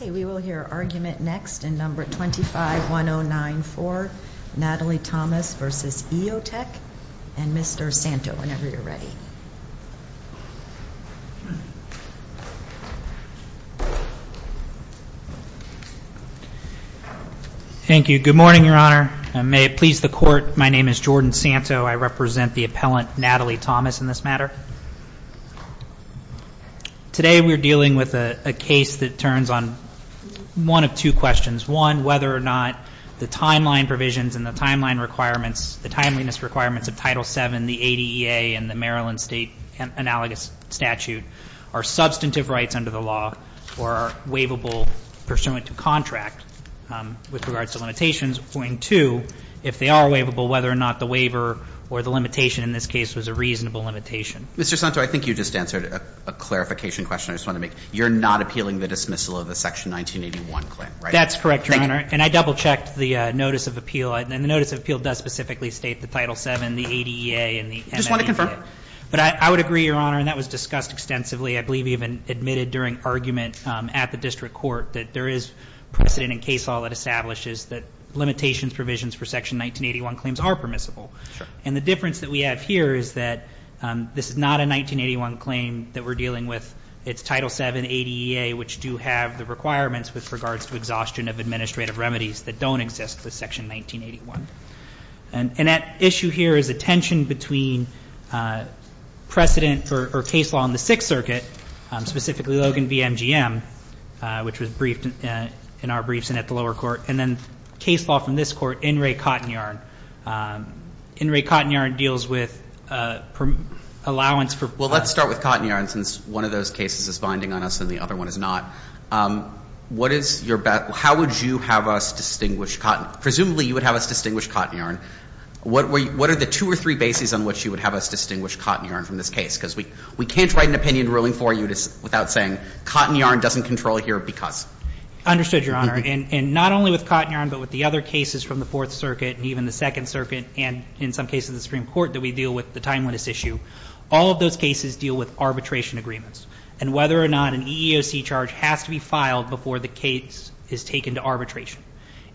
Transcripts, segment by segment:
We will hear argument next in No. 251094, Natalie Thomas v. EOTech, and Mr. Santo, whenever you're ready. Thank you. Good morning, Your Honor. May it please the Court, my name is Jordan Santo. I represent the appellant, Natalie Thomas, in this matter. Today we're dealing with a case that turns on one of two questions. One, whether or not the timeline provisions and the timeline requirements, the timeliness requirements of Title VII, the ADEA, and the Maryland State Analogous Statute are substantive rights under the law or are waivable pursuant to contract with regards to limitations. And two, if they are waivable, whether or not the waiver or the limitation in this case was a reasonable limitation. Mr. Santo, I think you just answered a clarification question I just wanted to make. You're not appealing the dismissal of the Section 1981 claim, right? That's correct, Your Honor. And I double-checked the notice of appeal. And the notice of appeal does specifically state the Title VII, the ADEA, and the MMDA. I just want to confirm. But I would agree, Your Honor, and that was discussed extensively. I believe you even admitted during argument at the district court that there is precedent in case law that establishes that limitations provisions for Section 1981 claims are permissible. Sure. And the difference that we have here is that this is not a 1981 claim that we're dealing with. It's Title VII, ADEA, which do have the requirements with regards to exhaustion of administrative remedies that don't exist with Section 1981. And that issue here is a tension between precedent or case law in the Sixth Circuit, specifically Logan v. MGM, which was briefed in our briefs and at the lower court, and then case law from this Court, In re Cotton Yarn. In re Cotton Yarn deals with allowance for permits. Well, let's start with Cotton Yarn since one of those cases is binding on us and the other one is not. What is your bet? How would you have us distinguish Cotton? Presumably you would have us distinguish Cotton Yarn. What are the two or three bases on which you would have us distinguish Cotton Yarn from this case? Because we can't write an opinion ruling for you without saying Cotton Yarn doesn't control here because. Understood, Your Honor. And not only with Cotton Yarn but with the other cases from the Fourth Circuit and even the Second Circuit and in some cases the Supreme Court that we deal with the timeliness issue, all of those cases deal with arbitration agreements. And whether or not an EEOC charge has to be filed before the case is taken to arbitration.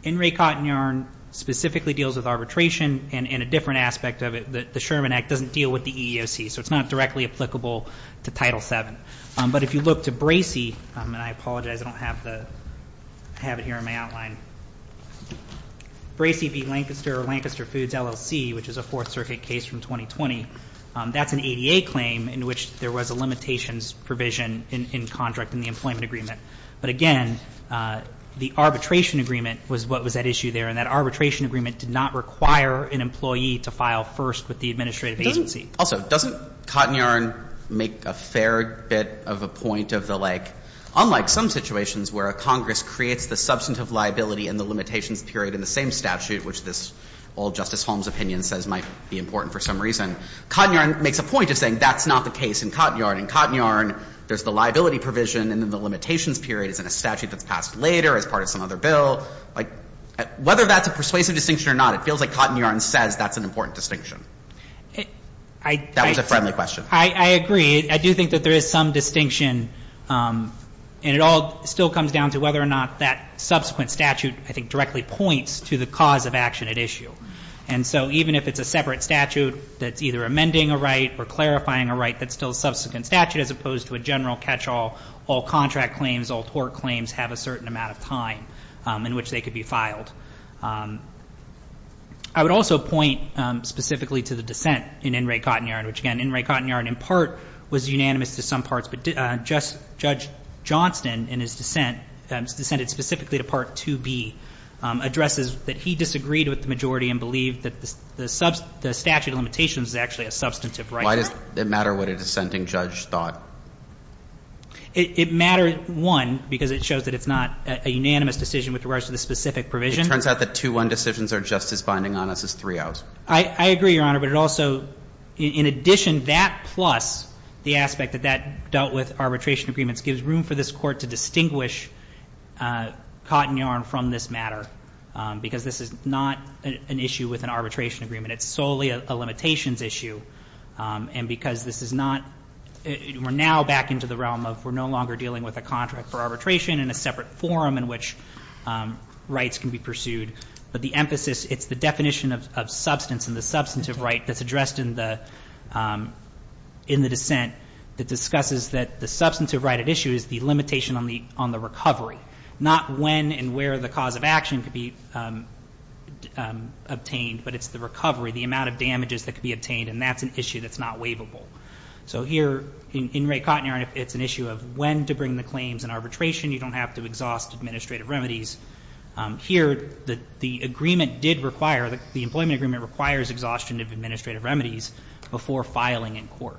In re Cotton Yarn specifically deals with arbitration and a different aspect of it, the Sherman Act doesn't deal with the EEOC, so it's not directly applicable to Title VII. But if you look to Bracey, and I apologize I don't have the, I have it here in my outline, Bracey v. Lancaster, Lancaster Foods LLC, which is a Fourth Circuit case from 2020, that's an ADA claim in which there was a limitations provision in contract in the employment agreement. But again, the arbitration agreement was what was at issue there, and that arbitration agreement did not require an employee to file first with the administrative agency. Also, doesn't Cotton Yarn make a fair bit of a point of the like, unlike some situations where a Congress creates the substantive liability and the limitations period in the same statute, which this old Justice Holmes opinion says might be important for some reason. Cotton Yarn makes a point of saying that's not the case in Cotton Yarn. In Cotton Yarn, there's the liability provision and then the limitations period is in a statute that's passed later as part of some other bill. Like, whether that's a persuasive distinction or not, it feels like Cotton Yarn says that's an important distinction. That was a friendly question. I agree. I do think that there is some distinction, and it all still comes down to whether or not that subsequent statute, I think, directly points to the cause of action at issue. And so even if it's a separate statute that's either amending a right or clarifying a right, that's still a subsequent statute as opposed to a general catch-all, all contract claims, all tort claims have a certain amount of time in which they could be filed. I would also point specifically to the dissent in In Re Cotton Yarn, which, again, in part was unanimous to some parts, but Judge Johnston in his dissent, dissented specifically to Part 2B, addresses that he disagreed with the majority and believed that the statute of limitations is actually a substantive right. Why does it matter what a dissenting judge thought? It mattered, one, because it shows that it's not a unanimous decision with regards to the specific provision. It turns out that 2-1 decisions are just as binding on us as 3-0s. I agree, Your Honor, but it also, in addition, that plus the aspect that that dealt with arbitration agreements gives room for this Court to distinguish Cotton Yarn from this matter, because this is not an issue with an arbitration agreement. It's solely a limitations issue. And because this is not we're now back into the realm of we're no longer dealing with a contract for arbitration and a separate forum in which rights can be pursued. But the emphasis, it's the definition of substance and the substantive right that's addressed in the dissent that discusses that the substantive right at issue is the limitation on the recovery, not when and where the cause of action could be obtained, but it's the recovery, the amount of damages that could be obtained, and that's an issue that's not waivable. So here in Ray Cotton Yarn, it's an issue of when to bring the claims in arbitration. You don't have to exhaust administrative remedies. Here, the agreement did require, the employment agreement requires exhaustion of administrative remedies before filing in court.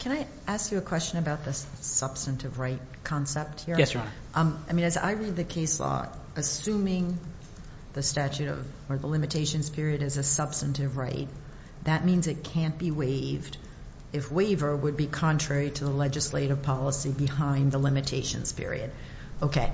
Can I ask you a question about the substantive right concept here? Yes, Your Honor. I mean, as I read the case law, assuming the statute or the limitations period is a substantive right, that means it can't be waived if waiver would be contrary to the legislative policy behind the limitations period. Okay.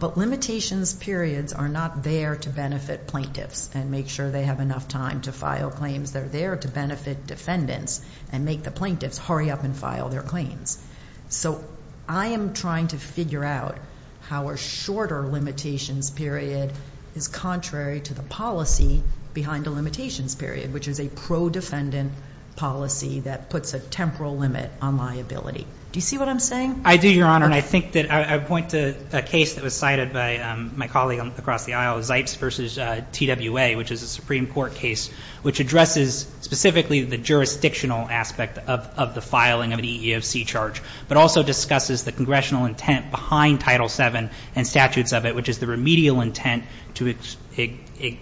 But limitations periods are not there to benefit plaintiffs and make sure they have enough time to file claims. They're there to benefit defendants and make the plaintiffs hurry up and file their claims. So I am trying to figure out how a shorter limitations period is contrary to the policy behind the limitations period, which is a pro-defendant policy that puts a temporal limit on liability. Do you see what I'm saying? I do, Your Honor. And I think that I would point to a case that was cited by my colleague across the aisle, Zipes v. TWA, which is a Supreme Court case, which addresses specifically the jurisdictional aspect of the filing of an EEOC charge, but also discusses the congressional intent behind Title VII and statutes of it, which is the remedial intent to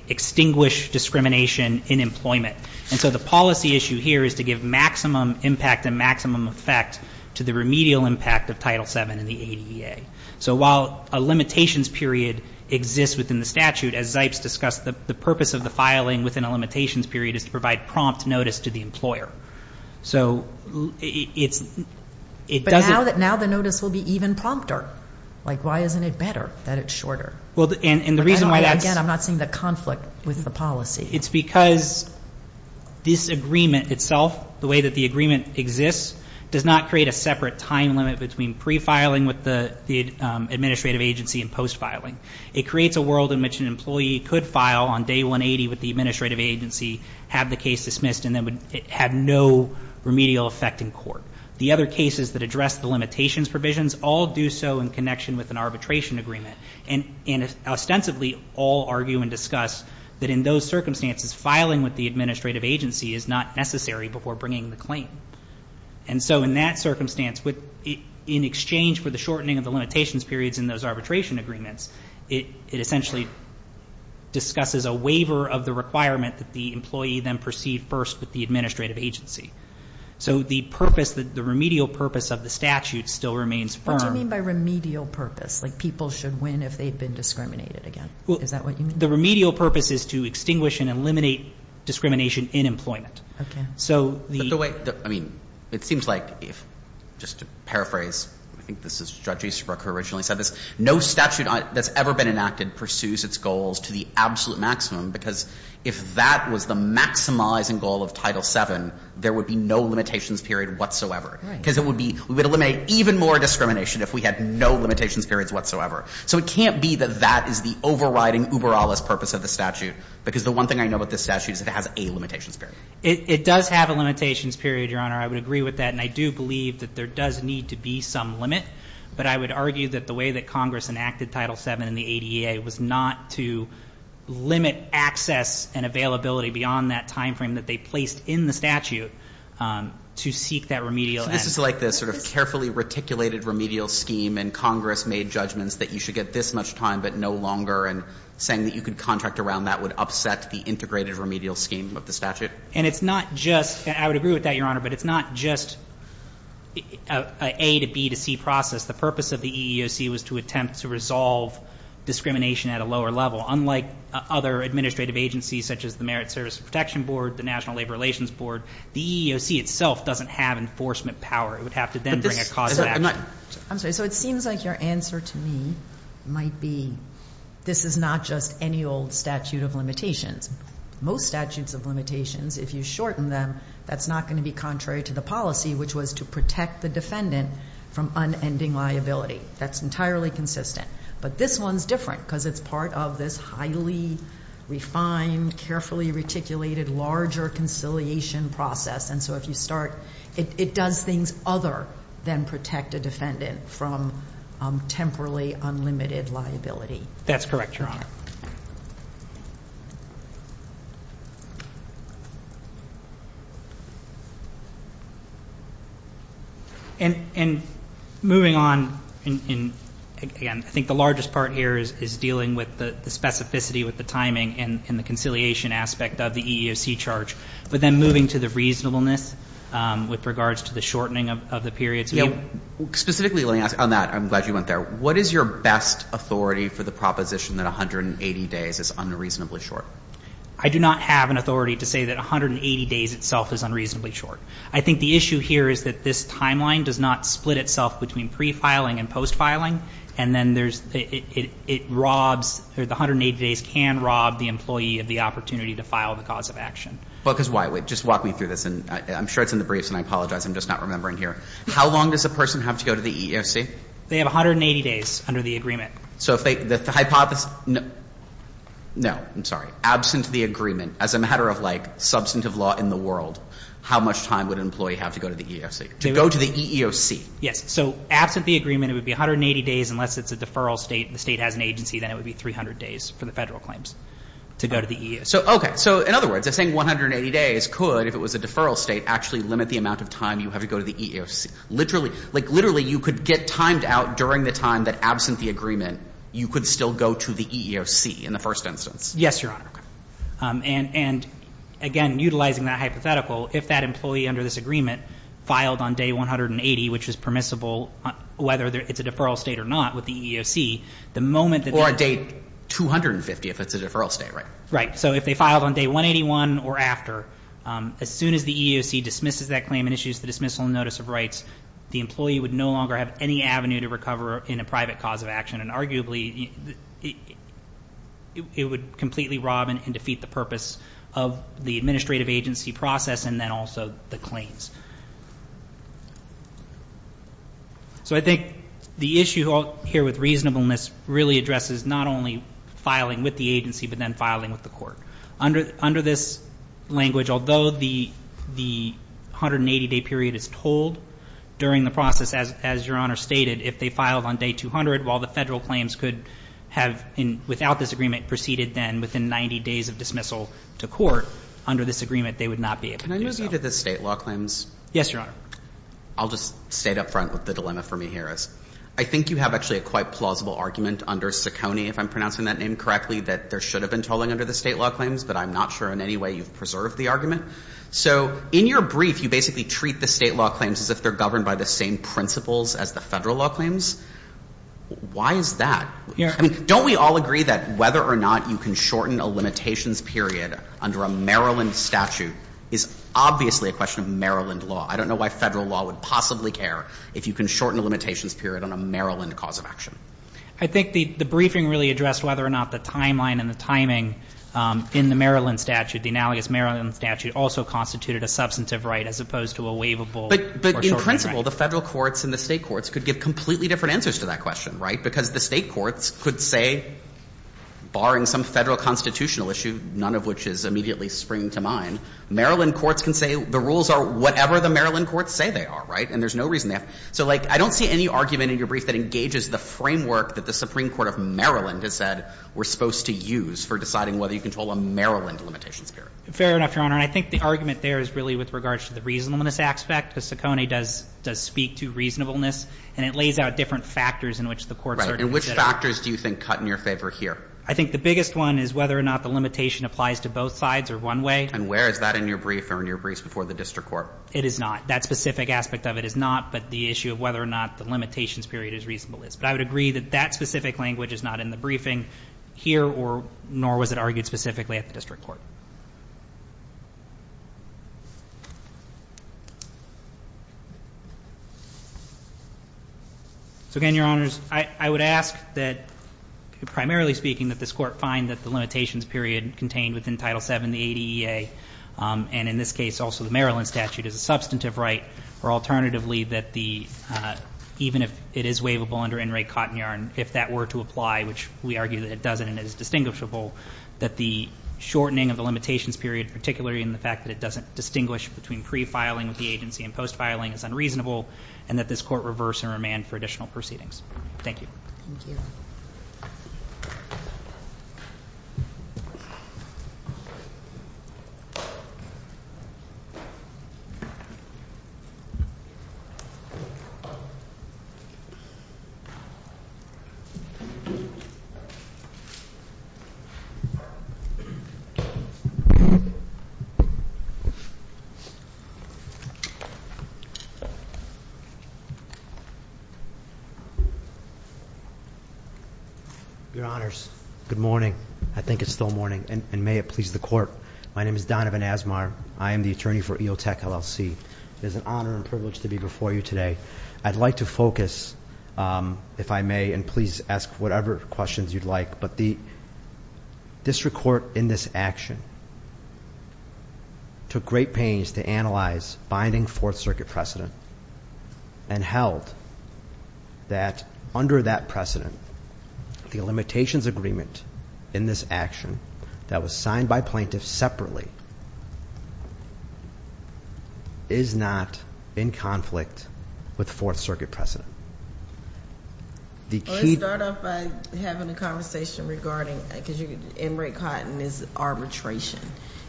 extinguish discrimination in employment. And so the policy issue here is to give maximum impact and maximum effect to the remedial impact of Title VII in the ADA. So while a limitations period exists within the statute, as Zipes discussed, the purpose of the filing within a limitations period is to provide prompt notice to the employer. So it doesn't But now the notice will be even prompter. Like why isn't it better that it's shorter? Well, and the reason why that's Again, I'm not seeing the conflict with the policy. It's because this agreement itself, the way that the agreement exists, does not create a separate time limit between pre-filing with the administrative agency and post-filing. It creates a world in which an employee could file on day 180 with the administrative agency, have the case dismissed, and then have no remedial effect in court. The other cases that address the limitations provisions all do so in connection with an arbitration agreement and ostensibly all argue and discuss that in those circumstances, filing with the administrative agency is not necessary before bringing the claim. And so in that circumstance, in exchange for the shortening of the limitations periods in those arbitration agreements, it essentially discusses a waiver of the requirement that the employee then proceed first with the administrative agency. So the purpose, the remedial purpose of the statute still remains firm. What do you mean by remedial purpose? Like people should win if they've been discriminated against? Is that what you mean? The remedial purpose is to extinguish and eliminate discrimination in employment. Okay. So the way, I mean, it seems like if, just to paraphrase, I think this is Judge Easterbrook who originally said this, no statute that's ever been enacted pursues its goals to the absolute maximum because if that was the maximizing goal of Title VII, there would be no limitations period whatsoever. Right. Because it would be, we would eliminate even more discrimination if we had no limitations periods whatsoever. So it can't be that that is the overriding uber alis purpose of the statute because the one thing I know about this statute is it has a limitations period. It does have a limitations period, Your Honor. I would agree with that and I do believe that there does need to be some limit, but I would argue that the way that Congress enacted Title VII in the ADA was not to limit access and availability beyond that time frame that they placed in the statute to seek that remedial end. So this is like the sort of carefully reticulated remedial scheme and Congress made judgments that you should get this much time but no longer and saying that you could contract around that would upset the integrated remedial scheme of the statute. And it's not just, I would agree with that, Your Honor, but it's not just an A to B to C process. The purpose of the EEOC was to attempt to resolve discrimination at a lower level. Unlike other administrative agencies such as the Merit Service Protection Board, the National Labor Relations Board, the EEOC itself doesn't have enforcement power. It would have to then bring a cause of action. I'm sorry, so it seems like your answer to me might be this is not just any old statute of limitations. Most statutes of limitations, if you shorten them, that's not going to be contrary to the policy, which was to protect the defendant from unending liability. That's entirely consistent. But this one's different because it's part of this highly refined, carefully reticulated, larger conciliation process. And so if you start, it does things other than protect a defendant from temporarily unlimited liability. That's correct, Your Honor. And moving on, again, I think the largest part here is dealing with the specificity with the timing and the conciliation aspect of the EEOC charge. But then moving to the reasonableness with regards to the shortening of the period. Yeah. Specifically, let me ask on that. I'm glad you went there. What is your best authority for the proposition that 180 days is unreasonably short? I do not have an authority to say that 180 days itself is unreasonably short. I think the issue here is that this timeline does not split itself between pre-filing and post-filing, and then there's, it robs, or the 180 days can rob the employee of the opportunity to file the cause of action. Because why? Just walk me through this, and I'm sure it's in the briefs, and I apologize. I'm just not remembering here. How long does a person have to go to the EEOC? They have 180 days under the agreement. So if they, the hypothesis, no, I'm sorry. Absent the agreement, as a matter of, like, substantive law in the world, how much time would an employee have to go to the EEOC? To go to the EEOC. Yes. So absent the agreement, it would be 180 days unless it's a deferral state, and the state has an agency, then it would be 300 days for the Federal claims to go to the EEOC. So, okay. So in other words, they're saying 180 days could, if it was a deferral state, actually limit the amount of time you have to go to the EEOC. Literally, like, literally, you could get timed out during the time that absent the agreement, you could still go to the EEOC in the first instance. Yes, Your Honor. And, again, utilizing that hypothetical, if that employee under this agreement filed on day 180, which is permissible whether it's a deferral state or not with the EEOC, the moment that they're Or day 250 if it's a deferral state, right? Right. So if they filed on day 181 or after, as soon as the EEOC dismisses that claim and issues the dismissal notice of rights, the employee would no longer have any avenue to recover in a private cause of action, and arguably it would completely rob and defeat the purpose of the administrative agency process and then also the claims. So I think the issue here with reasonableness really addresses not only filing with the agency but then filing with the court. Under this language, although the 180-day period is told during the process, as Your Honor stated, if they filed on day 200 while the federal claims could have, without this agreement, proceeded then within 90 days of dismissal to court, under this agreement they would not be able to do so. Can I move to the state law claims? Yes, Your Honor. I'll just state up front what the dilemma for me here is. I think you have actually a quite plausible argument under Ciccone, if I'm pronouncing that name correctly, that there should have been tolling under the state law claims, but I'm not sure in any way you've preserved the argument. So in your brief you basically treat the state law claims as if they're governed by the same principles as the federal law claims. Why is that? I mean, don't we all agree that whether or not you can shorten a limitations period under a Maryland statute is obviously a question of Maryland law? I don't know why federal law would possibly care if you can shorten a limitations period on a Maryland cause of action. I think the briefing really addressed whether or not the timeline and the timing in the Maryland statute, the analogous Maryland statute, also constituted a substantive right as opposed to a waivable or shortening right. But in principle, the Federal courts and the State courts could give completely different answers to that question, right? Because the State courts could say, barring some Federal constitutional issue, none of which is immediately springing to mind, Maryland courts can say the rules are whatever the Maryland courts say they are, right? And there's no reason they have to. So, like, I don't see any argument in your brief that engages the framework that the Supreme Court of Maryland has said we're supposed to use for deciding whether you control a Maryland limitations period. Fair enough, Your Honor. And I think the argument there is really with regards to the reasonableness aspect, because Saccone does speak to reasonableness, and it lays out different factors in which the courts are considering. Right. And which factors do you think cut in your favor here? I think the biggest one is whether or not the limitation applies to both sides or one way. And where is that in your brief or in your briefs before the district court? It is not. That specific aspect of it is not, but the issue of whether or not the limitations period is reasonableness. But I would agree that that specific language is not in the briefing here, nor was it argued specifically at the district court. So, again, Your Honors, I would ask that, primarily speaking, that this court find that the limitations period contained within Title VII, and in this case also the Maryland statute, is a substantive right, or alternatively that even if it is waivable under NRA Cotton Yarn, if that were to apply, which we argue that it doesn't and is distinguishable, that the shortening of the limitations period, particularly in the fact that it doesn't distinguish between pre-filing with the agency and post-filing, is unreasonable, and that this court reverse and remand for additional proceedings. Thank you. Thank you. Thank you. Your Honors, good morning. I think it's still morning, and may it please the court. My name is Donovan Asmar. I am the attorney for EOTech LLC. It is an honor and privilege to be before you today. I'd like to focus, if I may, and please ask whatever questions you'd like, but the district court in this action took great pains to analyze binding and held that under that precedent, the limitations agreement in this action that was signed by plaintiffs separately is not in conflict with the Fourth Circuit precedent. Let's start off by having a conversation regarding, because NRA Cotton is arbitration,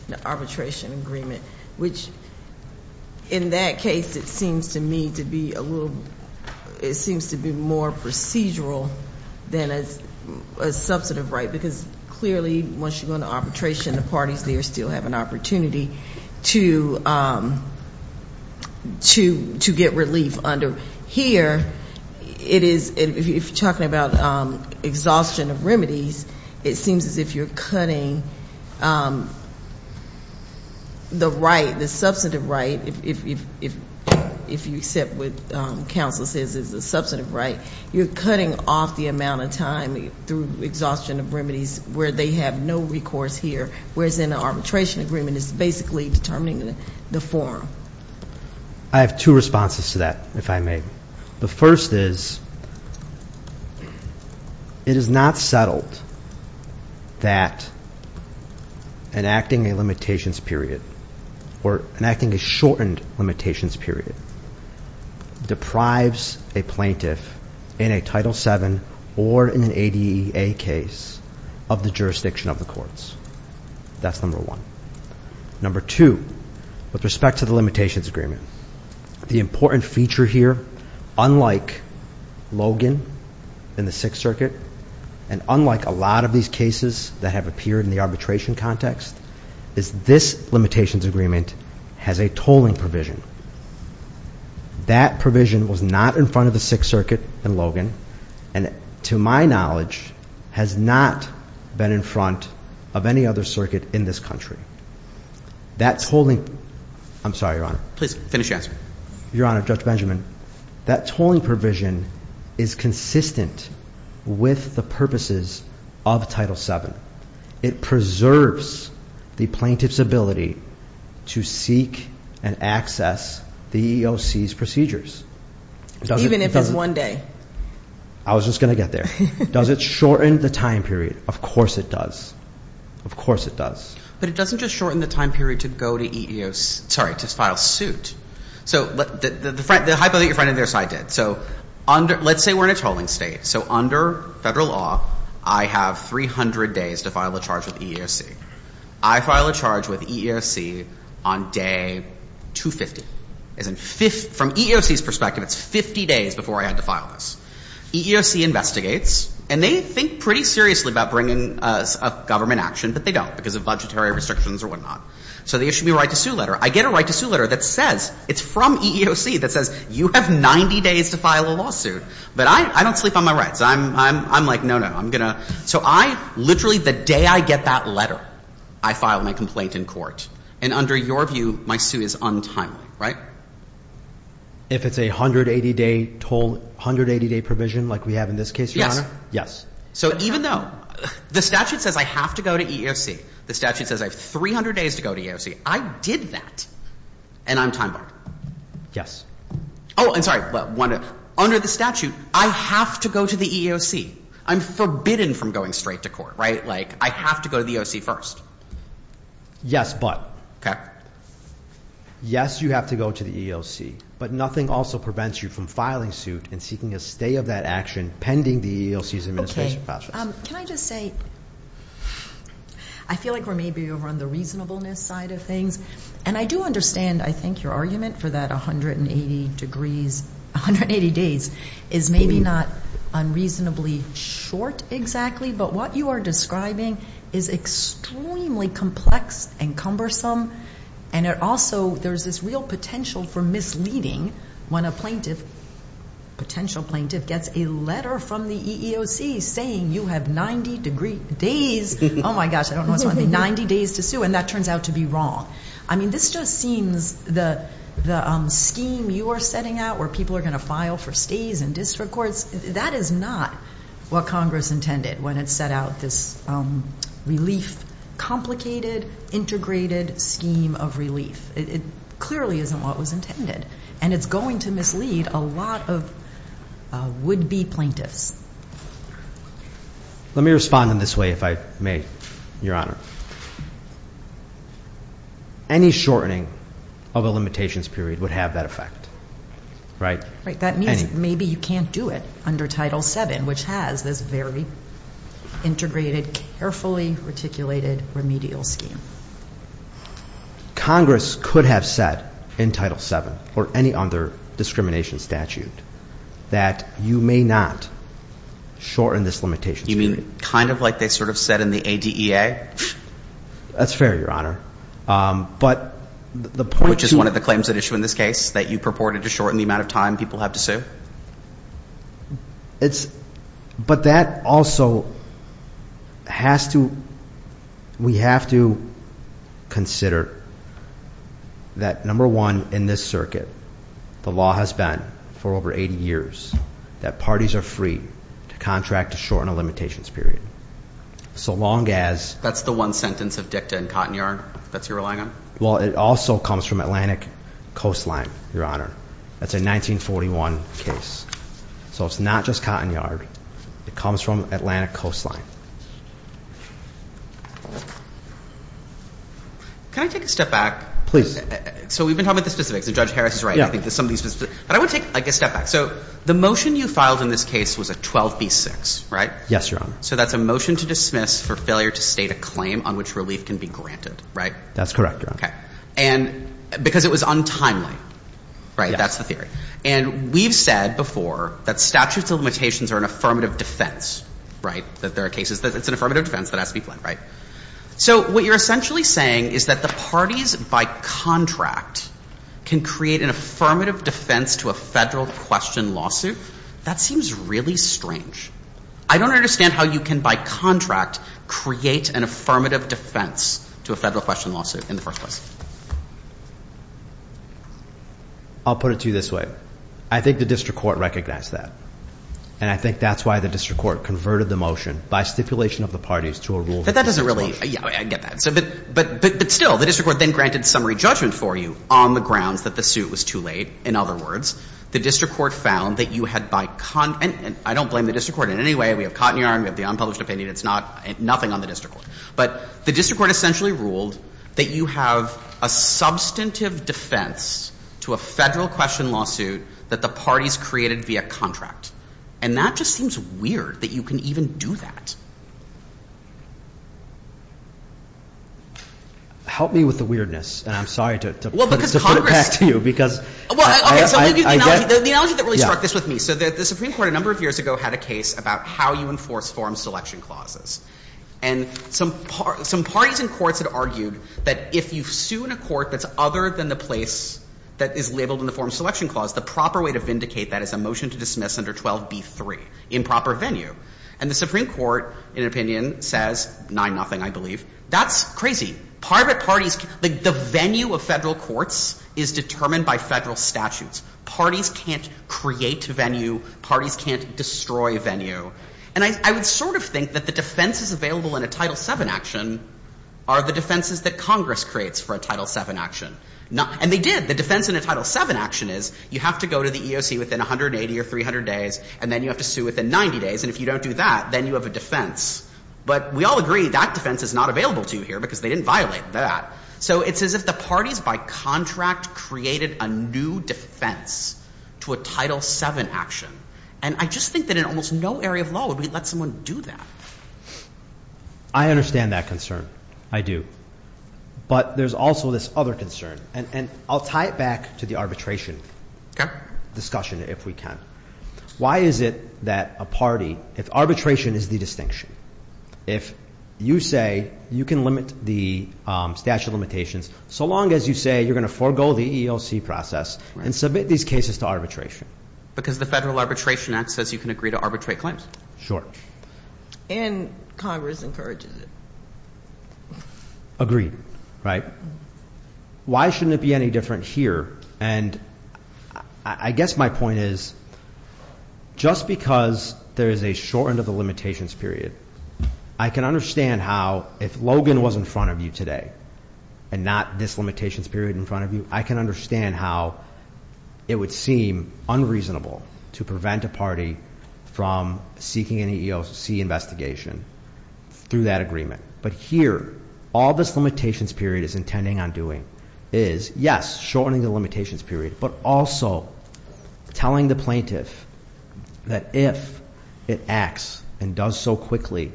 the arbitration agreement, which in that case, it seems to me to be a little, it seems to be more procedural than a substantive right, because clearly once you go into arbitration, the parties there still have an opportunity to get relief under. Here, if you're talking about exhaustion of remedies, it seems as if you're cutting the right, the substantive right, if you accept what counsel says is a substantive right, you're cutting off the amount of time through exhaustion of remedies where they have no recourse here, whereas in an arbitration agreement, it's basically determining the form. I have two responses to that, if I may. The first is, it is not settled that enacting a limitations period or enacting a shortened limitations period deprives a plaintiff in a Title VII or in an ADA case of the jurisdiction of the courts. That's number one. Number two, with respect to the limitations agreement, the important feature here, unlike Logan in the Sixth Circuit and unlike a lot of these cases that have appeared in the arbitration context, is this limitations agreement has a tolling provision. That provision was not in front of the Sixth Circuit in Logan and to my knowledge has not been in front of any other circuit in this country. That tolling, I'm sorry, Your Honor. Please finish your answer. Your Honor, Judge Benjamin, that tolling provision is consistent with the purposes of Title VII. It preserves the plaintiff's ability to seek and access the EEOC's procedures. Even if it's one day. I was just going to get there. Does it shorten the time period? Of course it does. Of course it does. But it doesn't just shorten the time period to go to EEOC, sorry, to file suit. So the hypo that your friend on the other side did. So let's say we're in a tolling state. So under Federal law, I have 300 days to file a charge with EEOC. I file a charge with EEOC on day 250. From EEOC's perspective, it's 50 days before I had to file this. EEOC investigates and they think pretty seriously about bringing a government action, but they don't because of budgetary restrictions or whatnot. So they issue me a right to sue letter. I get a right to sue letter that says it's from EEOC that says you have 90 days to file a lawsuit. But I don't sleep on my rights. I'm like, no, no, I'm going to. So I literally, the day I get that letter, I file my complaint in court. And under your view, my sue is untimely, right? If it's a 180-day toll, 180-day provision like we have in this case, Your Honor? Yes. So even though the statute says I have to go to EEOC, the statute says I have 300 days to go to EEOC, I did that. And I'm time-bound. Yes. Oh, and sorry. Under the statute, I have to go to the EEOC. I'm forbidden from going straight to court, right? Like I have to go to the EEOC first. Yes, but. Okay. Yes, you have to go to the EEOC. But nothing also prevents you from filing suit and seeking a stay of that action pending the EEOC's administration process. Can I just say, I feel like we're maybe over on the reasonableness side of things. And I do understand, I think, your argument for that 180 degrees, 180 days is maybe not unreasonably short exactly. But what you are describing is extremely complex and cumbersome. And it also, there's this real potential for misleading when a plaintiff, potential plaintiff, gets a letter from the EEOC saying you have 90 days. Oh, my gosh. I don't know what's going on. 90 days to sue. And that turns out to be wrong. I mean, this just seems, the scheme you are setting out where people are going to file for stays in district courts, that is not what Congress intended when it set out this relief, complicated, integrated scheme of relief. It clearly isn't what was intended. And it's going to mislead a lot of would-be plaintiffs. Let me respond in this way, if I may, Your Honor. Any shortening of a limitations period would have that effect, right? That means maybe you can't do it under Title VII, which has this very integrated, carefully articulated remedial scheme. Congress could have said in Title VII or any other discrimination statute that you may not shorten this limitations period. You mean kind of like they sort of said in the ADEA? That's fair, Your Honor. Which is one of the claims at issue in this case, that you purported to shorten the amount of time people have to sue? But that also has to, we have to consider that, number one, in this circuit, the law has been for over 80 years that parties are free to contract to shorten a limitations period. So long as... That's the one sentence of dicta in Cotton Yard that you're relying on? Well, it also comes from Atlantic Coastline, Your Honor. That's a 1941 case. So it's not just Cotton Yard. It comes from Atlantic Coastline. Can I take a step back? Please. So we've been talking about the specifics, and Judge Harris is right. I think there's some of these specifics. But I want to take a step back. So the motion you filed in this case was a 12B6, right? Yes, Your Honor. So that's a motion to dismiss for failure to state a claim on which relief can be granted, right? That's correct, Your Honor. Okay. And because it was untimely, right? That's the theory. And we've said before that statutes of limitations are an affirmative defense, right? That there are cases that it's an affirmative defense that has to be planned, right? So what you're essentially saying is that the parties by contract can create an affirmative defense to a federal question lawsuit? That seems really strange. I don't understand how you can, by contract, create an affirmative defense to a federal question lawsuit in the first place. I'll put it to you this way. I think the district court recognized that. And I think that's why the district court converted the motion by stipulation of the parties to a rule- But that doesn't really – yeah, I get that. But still, the district court then granted summary judgment for you on the grounds that the suit was too late. In other words, the district court found that you had by – and I don't blame the district court in any way. We have Cotton Yarn. We have the unpublished opinion. It's not – nothing on the district court. But the district court essentially ruled that you have a substantive defense to a federal question lawsuit that the parties created via contract. And that just seems weird that you can even do that. Help me with the weirdness, and I'm sorry to put it back to you because- Okay, so let me give you the analogy that really struck this with me. So the Supreme Court a number of years ago had a case about how you enforce forum selection clauses. And some parties in courts had argued that if you sue in a court that's other than the place that is labeled in the forum selection clause, the proper way to vindicate that is a motion to dismiss under 12b-3, improper venue. And the Supreme Court, in opinion, says 9-0, I believe. That's crazy. Private parties – the venue of federal courts is determined by federal statutes. Parties can't create venue. Parties can't destroy venue. And I would sort of think that the defenses available in a Title VII action are the defenses that Congress creates for a Title VII action. And they did. The defense in a Title VII action is you have to go to the EOC within 180 or 300 days, and then you have to sue within 90 days. And if you don't do that, then you have a defense. But we all agree that defense is not available to you here because they didn't violate that. So it's as if the parties by contract created a new defense to a Title VII action. And I just think that in almost no area of law would we let someone do that. I understand that concern. I do. But there's also this other concern. And I'll tie it back to the arbitration discussion if we can. Why is it that a party, if arbitration is the distinction, if you say you can limit the statute of limitations, so long as you say you're going to forego the EOC process and submit these cases to arbitration? Because the Federal Arbitration Act says you can agree to arbitrate claims. Sure. And Congress encourages it. Agreed, right? Why shouldn't it be any different here? And I guess my point is just because there is a short end of the limitations period, I can understand how if Logan was in front of you today and not this limitations period in front of you, I can understand how it would seem unreasonable to prevent a party from seeking an EEOC investigation through that agreement. But here, all this limitations period is intending on doing is, yes, shortening the limitations period, but also telling the plaintiff that if it acts and does so quickly,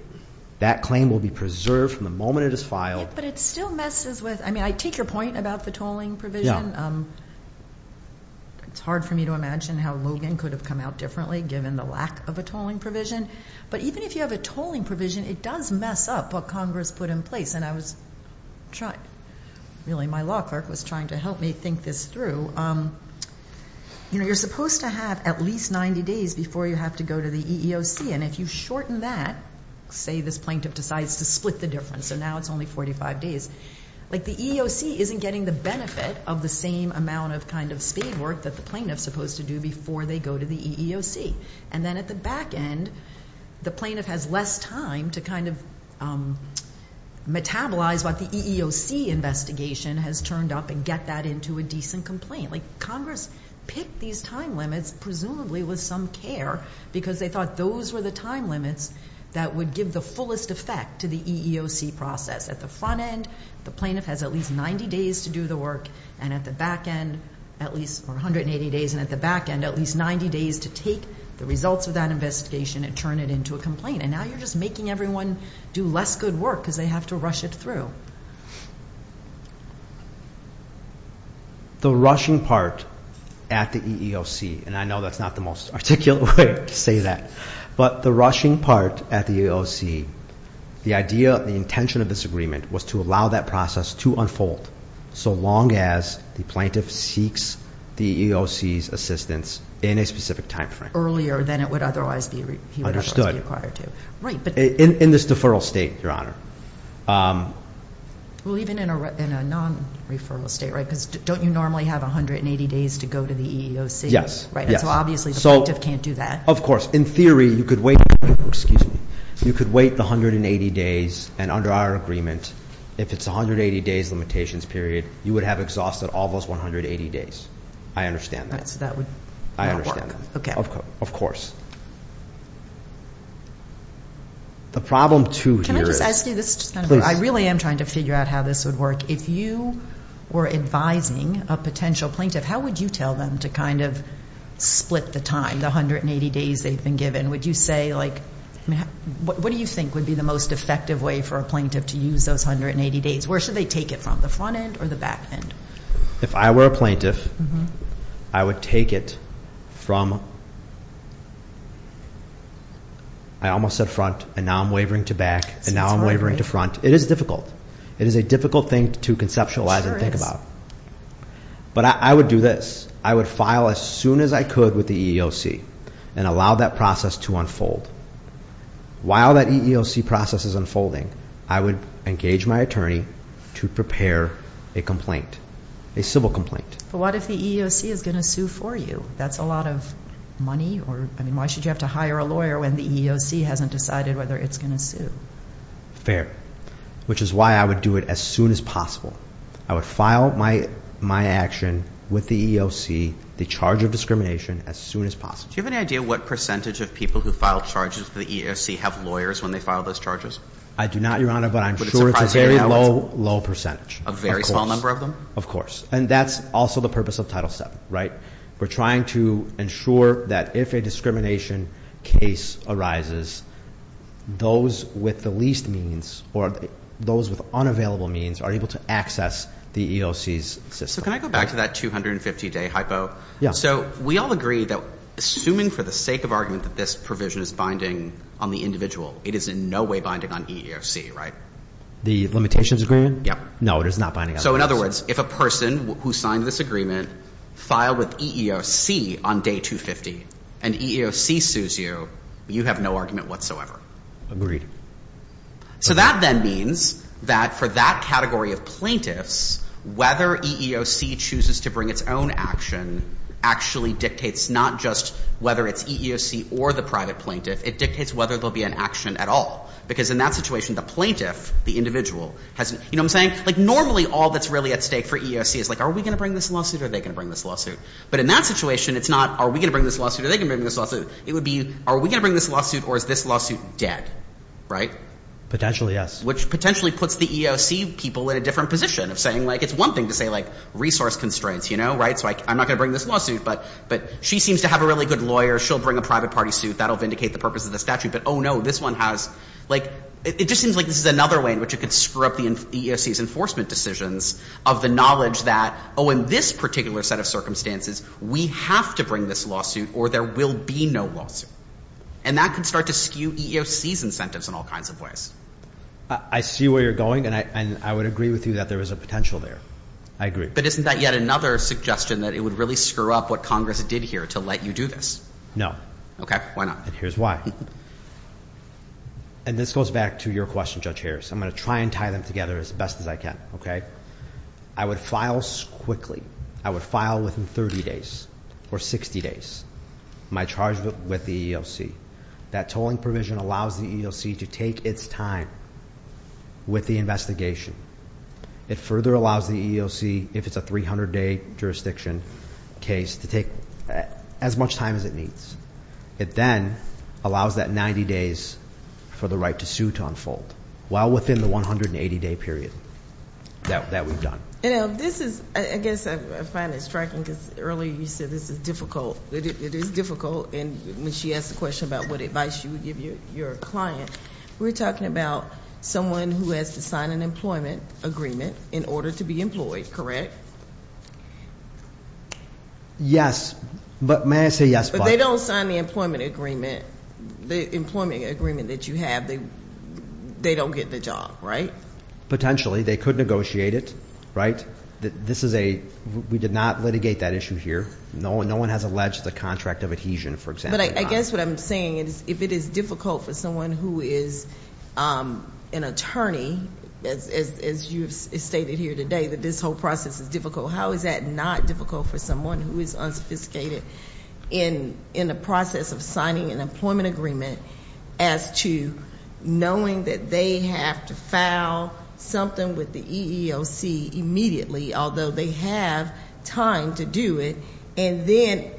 that claim will be preserved from the moment it is filed. But it still messes with, I mean, I take your point about the tolling provision. It's hard for me to imagine how Logan could have come out differently given the lack of a tolling provision. But even if you have a tolling provision, it does mess up what Congress put in place. And I was trying, really my law clerk was trying to help me think this through. You know, you're supposed to have at least 90 days before you have to go to the EEOC. And if you shorten that, say this plaintiff decides to split the difference, so now it's only 45 days, like the EEOC isn't getting the benefit of the same amount of kind of speed work that the plaintiff is supposed to do before they go to the EEOC. And then at the back end, the plaintiff has less time to kind of metabolize what the EEOC investigation has turned up and get that into a decent complaint. Like Congress picked these time limits presumably with some care, because they thought those were the time limits that would give the fullest effect to the EEOC process. At the front end, the plaintiff has at least 90 days to do the work. And at the back end, at least 180 days. And at the back end, at least 90 days to take the results of that investigation and turn it into a complaint. And now you're just making everyone do less good work because they have to rush it through. The rushing part at the EEOC, and I know that's not the most articulate way to say that, but the rushing part at the EEOC, the idea, the intention of this agreement was to allow that process to unfold so long as the plaintiff seeks the EEOC's assistance in a specific time frame. Earlier than it would otherwise be required to. Right. In this deferral state, Your Honor. Well, even in a non-referral state, right, because don't you normally have 180 days to go to the EEOC? Yes. Right, and so obviously the plaintiff can't do that. Of course. In theory, you could wait the 180 days, and under our agreement, if it's 180 days limitations period, you would have exhausted all those 180 days. I understand that. All right, so that would not work. I understand that. Okay. Of course. The problem, too, here is. Can I just ask you this? Please. I really am trying to figure out how this would work. If you were advising a potential plaintiff, how would you tell them to kind of split the time, the 180 days they've been given? Would you say, like, what do you think would be the most effective way for a plaintiff to use those 180 days? Where should they take it from, the front end or the back end? If I were a plaintiff, I would take it from, I almost said front, and now I'm wavering to back, and now I'm wavering to front. It is difficult. It is a difficult thing to conceptualize and think about. But I would do this. I would file as soon as I could with the EEOC and allow that process to unfold. While that EEOC process is unfolding, I would engage my attorney to prepare a complaint, a civil complaint. But what if the EEOC is going to sue for you? That's a lot of money. I mean, why should you have to hire a lawyer when the EEOC hasn't decided whether it's going to sue? Fair, which is why I would do it as soon as possible. I would file my action with the EEOC, the charge of discrimination, as soon as possible. Do you have any idea what percentage of people who file charges with the EEOC have lawyers when they file those charges? I do not, Your Honor, but I'm sure it's a very low, low percentage. A very small number of them? Of course. And that's also the purpose of Title VII, right? We're trying to ensure that if a discrimination case arises, those with the least means or those with unavailable means are able to access the EEOC's system. So can I go back to that 250-day hypo? Yeah. So we all agree that assuming for the sake of argument that this provision is binding on the individual, it is in no way binding on EEOC, right? The limitations agreement? Yeah. No, it is not binding on EEOC. So in other words, if a person who signed this agreement filed with EEOC on day 250 and EEOC sues you, you have no argument whatsoever. Agreed. So that then means that for that category of plaintiffs, whether EEOC chooses to bring its own action actually dictates not just whether it's EEOC or the private plaintiff. It dictates whether there will be an action at all because in that situation, the plaintiff, the individual, has an – you know what I'm saying? Like normally all that's really at stake for EEOC is like are we going to bring this lawsuit or are they going to bring this lawsuit? But in that situation, it's not are we going to bring this lawsuit or are they going to bring this lawsuit. It would be are we going to bring this lawsuit or is this lawsuit dead, right? Potentially, yes. Which potentially puts the EEOC people in a different position of saying like it's one thing to say like resource constraints, you know, right? So I'm not going to bring this lawsuit, but she seems to have a really good lawyer. She'll bring a private party suit. That will vindicate the purpose of the statute. But oh, no, this one has – like it just seems like this is another way in which it could screw up the EEOC's enforcement decisions of the knowledge that, oh, in this particular set of circumstances, we have to bring this lawsuit or there will be no lawsuit. And that could start to skew EEOC's incentives in all kinds of ways. I see where you're going, and I would agree with you that there is a potential there. I agree. But isn't that yet another suggestion that it would really screw up what Congress did here to let you do this? No. Okay. Why not? And here's why. And this goes back to your question, Judge Harris. I'm going to try and tie them together as best as I can, okay? I would file quickly. I would file within 30 days or 60 days my charge with the EEOC. That tolling provision allows the EEOC to take its time with the investigation. It further allows the EEOC, if it's a 300-day jurisdiction case, to take as much time as it needs. It then allows that 90 days for the right to sue to unfold. While within the 180-day period that we've done. You know, this is, I guess I find it striking because earlier you said this is difficult. It is difficult, and when she asked the question about what advice you would give your client, we're talking about someone who has to sign an employment agreement in order to be employed, correct? Yes. But may I say yes? If they don't sign the employment agreement, the employment agreement that you have, they don't get the job, right? Potentially. They could negotiate it, right? This is a we did not litigate that issue here. No one has alleged the contract of adhesion, for example. But I guess what I'm saying is if it is difficult for someone who is an attorney, as you have stated here today that this whole process is difficult, how is that not difficult for someone who is unsophisticated in the process of signing an employment agreement as to knowing that they have to file something with the EEOC immediately, although they have time to do it. And then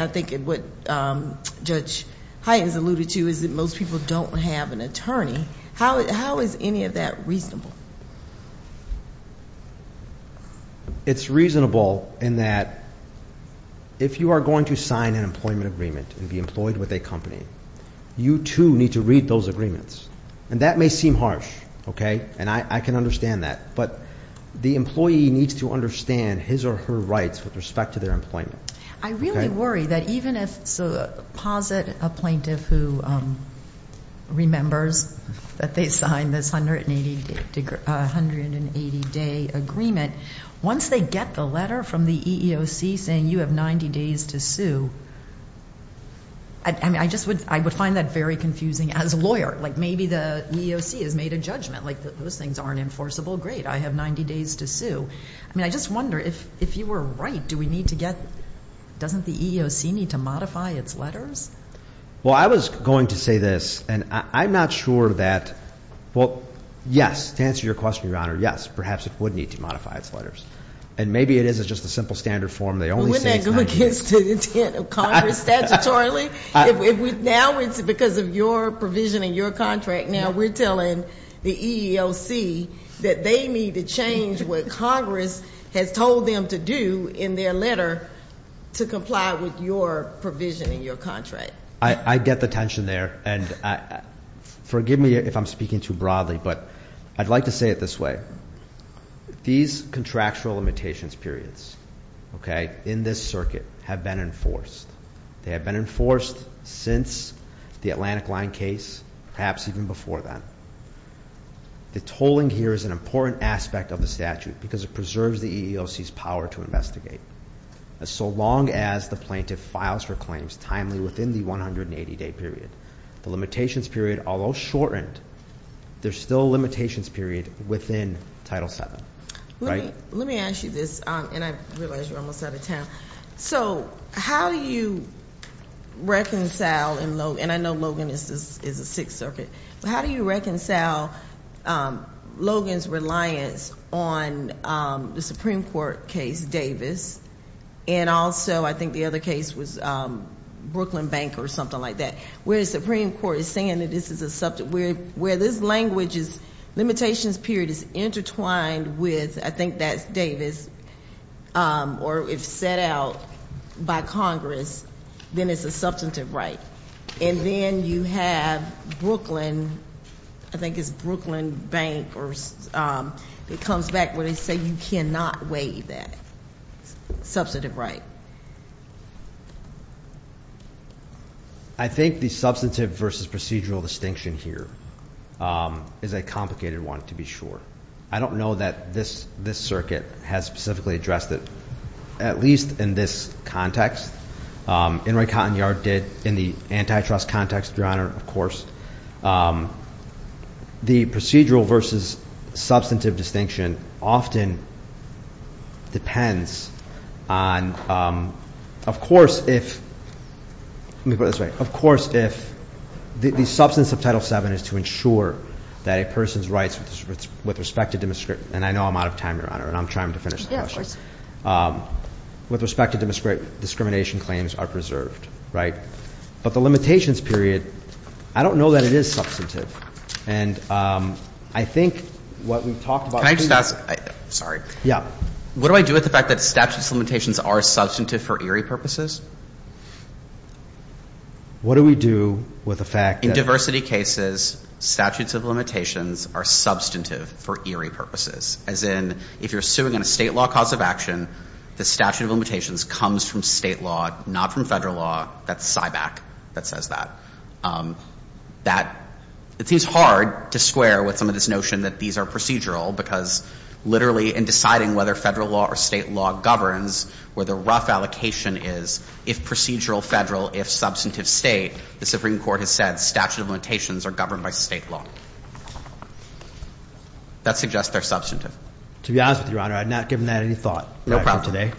I think what Judge Hyten has alluded to is that most people don't have an attorney. How is any of that reasonable? It's reasonable in that if you are going to sign an employment agreement and be employed with a company, you too need to read those agreements. And that may seem harsh, okay? And I can understand that. But the employee needs to understand his or her rights with respect to their employment. I really worry that even if it's a posit, a plaintiff who remembers that they signed this 180-day agreement, once they get the letter from the EEOC saying you have 90 days to sue, I mean, I just would find that very confusing as a lawyer. Like maybe the EEOC has made a judgment, like those things aren't enforceable. Great, I have 90 days to sue. I mean, I just wonder if you were right, do we need to get, doesn't the EEOC need to modify its letters? Well, I was going to say this, and I'm not sure that, well, yes, to answer your question, Your Honor, yes. Perhaps it would need to modify its letters. And maybe it is, it's just a simple standard form. They only say it's 90 days. Wouldn't that go against the intent of Congress statutorily? Now it's because of your provision in your contract. Now we're telling the EEOC that they need to change what Congress has told them to do in their letter to comply with your provision in your contract. I get the tension there. And forgive me if I'm speaking too broadly, but I'd like to say it this way. These contractual limitations periods, okay, in this circuit have been enforced. They have been enforced since the Atlantic Line case, perhaps even before that. The tolling here is an important aspect of the statute because it preserves the EEOC's power to investigate. So long as the plaintiff files for claims timely within the 180-day period. The limitations period, although shortened, there's still a limitations period within Title VII. Let me ask you this, and I realize you're almost out of time. So how do you reconcile, and I know Logan is a Sixth Circuit, but how do you reconcile Logan's reliance on the Supreme Court case, Davis, and also I think the other case was Brooklyn Bank or something like that, where the Supreme Court is saying that this is a, where this language is limitations period is intertwined with, I think that's Davis, or if set out by Congress, then it's a substantive right. And then you have Brooklyn, I think it's Brooklyn Bank, or it comes back where they say you cannot waive that substantive right. I think the substantive versus procedural distinction here is a complicated one, to be sure. I don't know that this circuit has specifically addressed it, at least in this context. In Roy Cotton Yard did, in the antitrust context, Your Honor, of course. The procedural versus substantive distinction often depends on, of course if, let me put it this way, of course if the substance of Title VII is to ensure that a person's rights with respect to, and I know I'm out of time, Your Honor, and I'm trying to finish the question. Yes, of course. With respect to discrimination claims are preserved, right? But the limitations period, I don't know that it is substantive. And I think what we've talked about. Can I just ask? Sorry. Yeah. What do I do with the fact that statutes of limitations are substantive for eerie purposes? What do we do with the fact that. In diversity cases, statutes of limitations are substantive for eerie purposes. As in, if you're suing on a state law cause of action, the statute of limitations comes from state law, not from federal law. That's SIBAC that says that. That, it seems hard to square with some of this notion that these are procedural, because literally in deciding whether federal law or state law governs, where the rough allocation is, if procedural, federal, if substantive, state, the Supreme Court has said statute of limitations are governed by state law. That suggests they're substantive. To be honest with you, Your Honor, I've not given that any thought. No problem.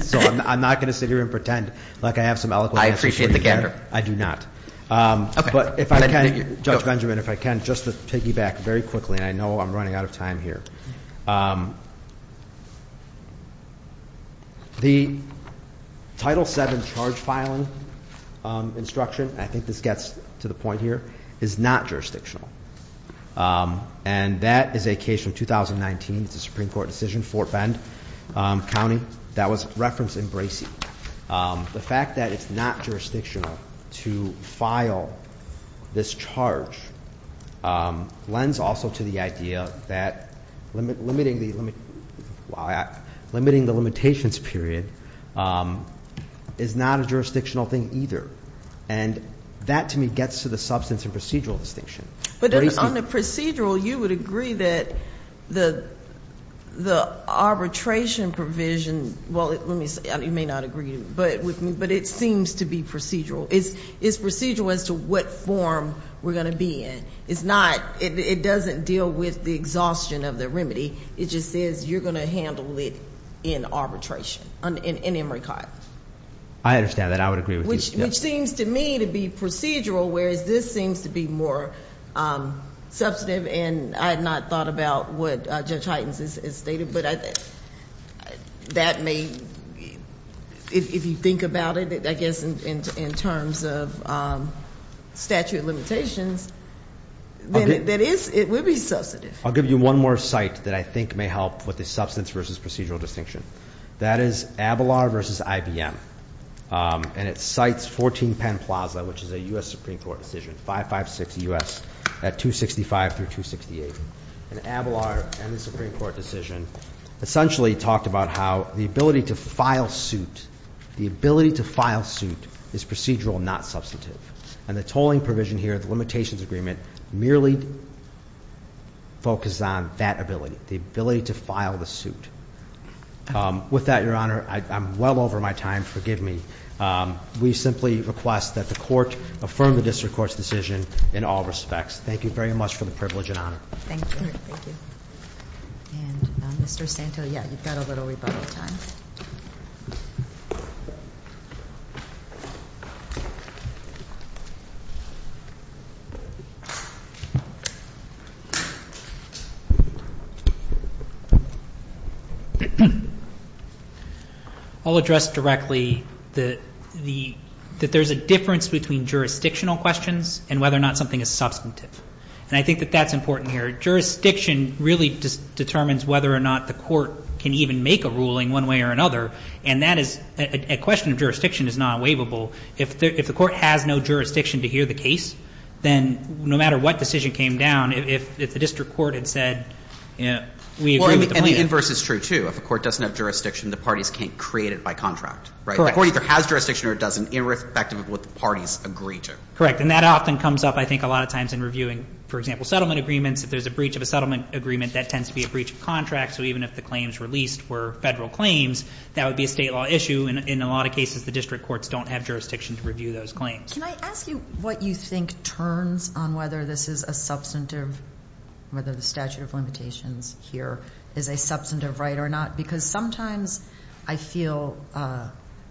So I'm not going to sit here and pretend like I have some eloquent answers. I appreciate the gander. I do not. Okay. But if I can, Judge Benjamin, if I can, just to piggyback very quickly, and I know I'm running out of time here. The Title VII charge filing instruction, I think this gets to the point here, is not jurisdictional. And that is a case from 2019. It's a Supreme Court decision, Fort Bend County. That was referenced in Bracey. The fact that it's not jurisdictional to file this charge lends also to the idea that limiting the limitations period is not a jurisdictional thing either. And that, to me, gets to the substance and procedural distinction. But on the procedural, you would agree that the arbitration provision, well, let me say, you may not agree with me, but it seems to be procedural. It's procedural as to what form we're going to be in. It's not, it doesn't deal with the exhaustion of the remedy. It just says you're going to handle it in arbitration, in Emory Codd. I understand that. I would agree with you. Which seems to me to be procedural, whereas this seems to be more substantive. And I had not thought about what Judge Hytens has stated. But that may, if you think about it, I guess in terms of statute of limitations, then it would be substantive. I'll give you one more site that I think may help with the substance versus procedural distinction. That is Abelard versus IBM. And it cites 14 Penn Plaza, which is a U.S. Supreme Court decision, 556 U.S. at 265 through 268. And Abelard and the Supreme Court decision essentially talked about how the ability to file suit, the ability to file suit is procedural, not substantive. And the tolling provision here, the limitations agreement, merely focuses on that ability, the ability to file the suit. With that, Your Honor, I'm well over my time. Forgive me. We simply request that the court affirm the district court's decision in all respects. Thank you very much for the privilege and honor. Thank you. And Mr. Santo, yeah, you've got a little rebuttal time. I'll address directly that there's a difference between jurisdictional questions and whether or not something is substantive. And I think that that's important here. Jurisdiction really determines whether or not the court can even make a ruling one way or another. And that is a question of jurisdiction is not waivable. If the court has no jurisdiction to hear the case, then no matter what decision came down, if the district court had said, you know, we agree with the plan. And the inverse is true, too. If a court doesn't have jurisdiction, the parties can't create it by contract. Correct. The court either has jurisdiction or it doesn't, irrespective of what the parties agree to. Correct. And that often comes up, I think, a lot of times in reviewing, for example, settlement agreements. If there's a breach of a settlement agreement, that tends to be a breach of contract. So even if the claims released were federal claims, that would be a state law issue. And in a lot of cases, the district courts don't have jurisdiction to review those claims. Can I ask you what you think turns on whether this is a substantive, whether the statute of limitations here is a substantive right or not? Because sometimes I feel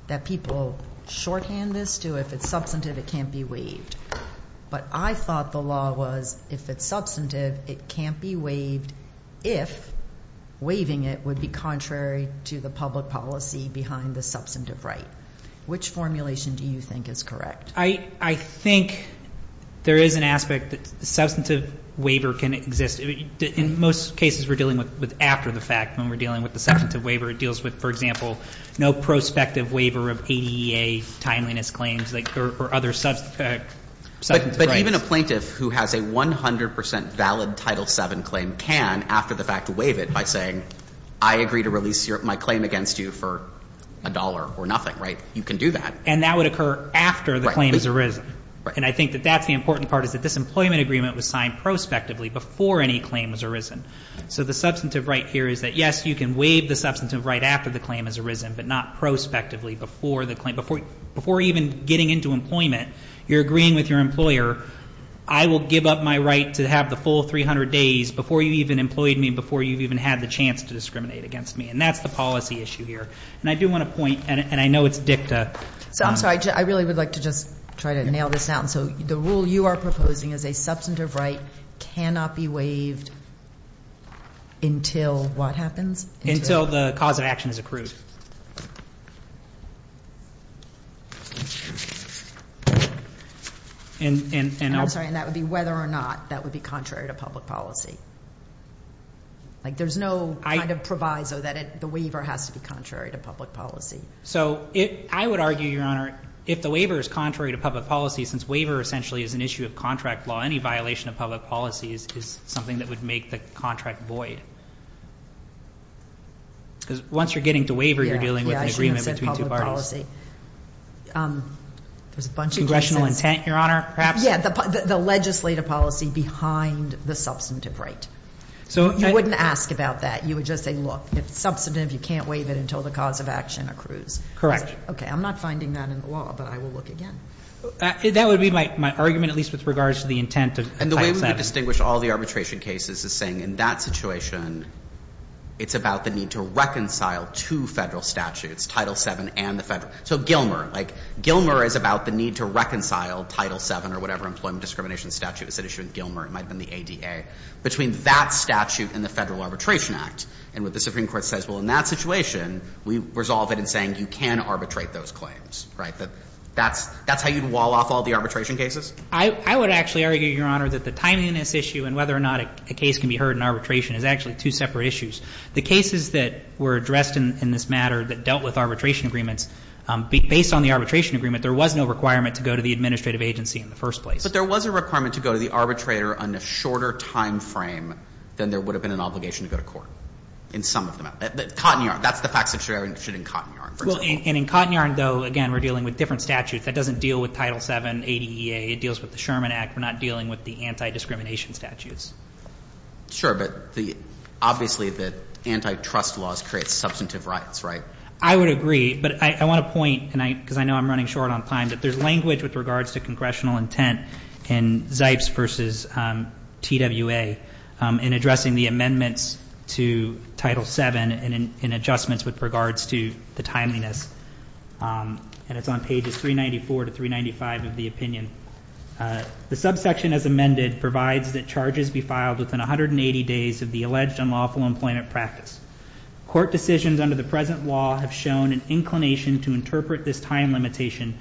that people shorthand this to if it's substantive, it can't be waived. But I thought the law was if it's substantive, it can't be waived if waiving it would be contrary to the public policy behind the substantive right. Which formulation do you think is correct? I think there is an aspect that substantive waiver can exist. In most cases we're dealing with after the fact when we're dealing with the substantive waiver, it deals with, for example, no prospective waiver of ADA timeliness claims or other substantive rights. But even a plaintiff who has a 100 percent valid Title VII claim can, after the fact, waive it by saying I agree to release my claim against you for a dollar or nothing. Right? You can do that. And that would occur after the claim has arisen. Right. And I think that that's the important part, is that this employment agreement was signed prospectively before any claim has arisen. So the substantive right here is that, yes, you can waive the substantive right after the claim has arisen, but not prospectively before the claim. Before even getting into employment, you're agreeing with your employer, I will give up my right to have the full 300 days before you've even employed me, before you've even had the chance to discriminate against me. And that's the policy issue here. And I do want to point, and I know it's dicta. So I'm sorry. I really would like to just try to nail this down. So the rule you are proposing is a substantive right cannot be waived until what happens? Until the cause of action is accrued. And I'm sorry. And that would be whether or not that would be contrary to public policy. Like there's no kind of proviso that the waiver has to be contrary to public policy. So I would argue, Your Honor, if the waiver is contrary to public policy, since waiver essentially is an issue of contract law, any violation of public policy is something that would make the contract void. Because once you're getting to waiver, you're dealing with an agreement between two parties. There's a bunch of reasons. Congressional intent, Your Honor, perhaps? Yeah, the legislative policy behind the substantive right. You wouldn't ask about that. You would just say, look, it's substantive. You can't waive it until the cause of action accrues. Correct. Okay. I'm not finding that in the law, but I will look again. That would be my argument, at least with regards to the intent of Title VII. And the way we distinguish all the arbitration cases is saying in that situation it's about the need to reconcile two Federal statutes, Title VII and the Federal So Gilmer. Like Gilmer is about the need to reconcile Title VII or whatever employment discrimination statute was at issue with Gilmer. It might have been the ADA. Between that statute and the Federal Arbitration Act, and what the Supreme Court says, well, in that situation, we resolve it in saying you can arbitrate those claims, right? That's how you'd wall off all the arbitration cases? I would actually argue, Your Honor, that the timeliness issue and whether or not a case can be heard in arbitration is actually two separate issues. The cases that were addressed in this matter that dealt with arbitration agreements, based on the arbitration agreement, there was no requirement to go to the administrative agency in the first place. But there was a requirement to go to the arbitrator on a shorter time frame than there would have been an obligation to go to court in some of them. Cotton yarn. That's the facts that you're interested in cotton yarn, for example. And in cotton yarn, though, again, we're dealing with different statutes. That doesn't deal with Title VII, ADA. It deals with the Sherman Act. We're not dealing with the anti-discrimination statutes. Sure. But obviously the antitrust laws create substantive rights, right? I would agree. But I want to point, because I know I'm running short on time, that there's language with regards to congressional intent in Zipes versus TWA in addressing the amendments to Title VII and in adjustments with regards to the timeliness. And it's on pages 394 to 395 of the opinion. The subsection as amended provides that charges be filed within 180 days of the alleged unlawful employment practice. Court decisions under the present law have shown an inclination to interpret this time limitation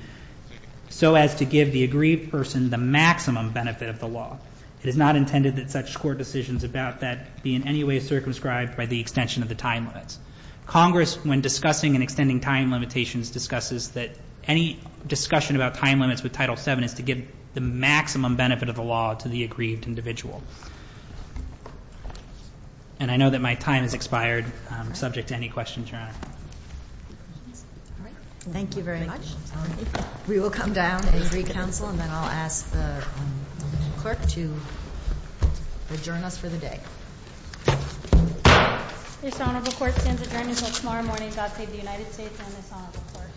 so as to give the aggrieved person the maximum benefit of the law. It is not intended that such court decisions about that be in any way circumscribed by the extension of the time limits. Congress, when discussing and extending time limitations, discusses that any discussion about time limits with Title VII is to give the maximum benefit of the law to the aggrieved individual. And I know that my time has expired subject to any questions, Your Honor. All right. Thank you very much. Thank you. We will come down and read counsel, and then I'll ask the clerk to adjourn us for the day. This honorable court stands adjourned until tomorrow morning. God save the United States and this honorable court.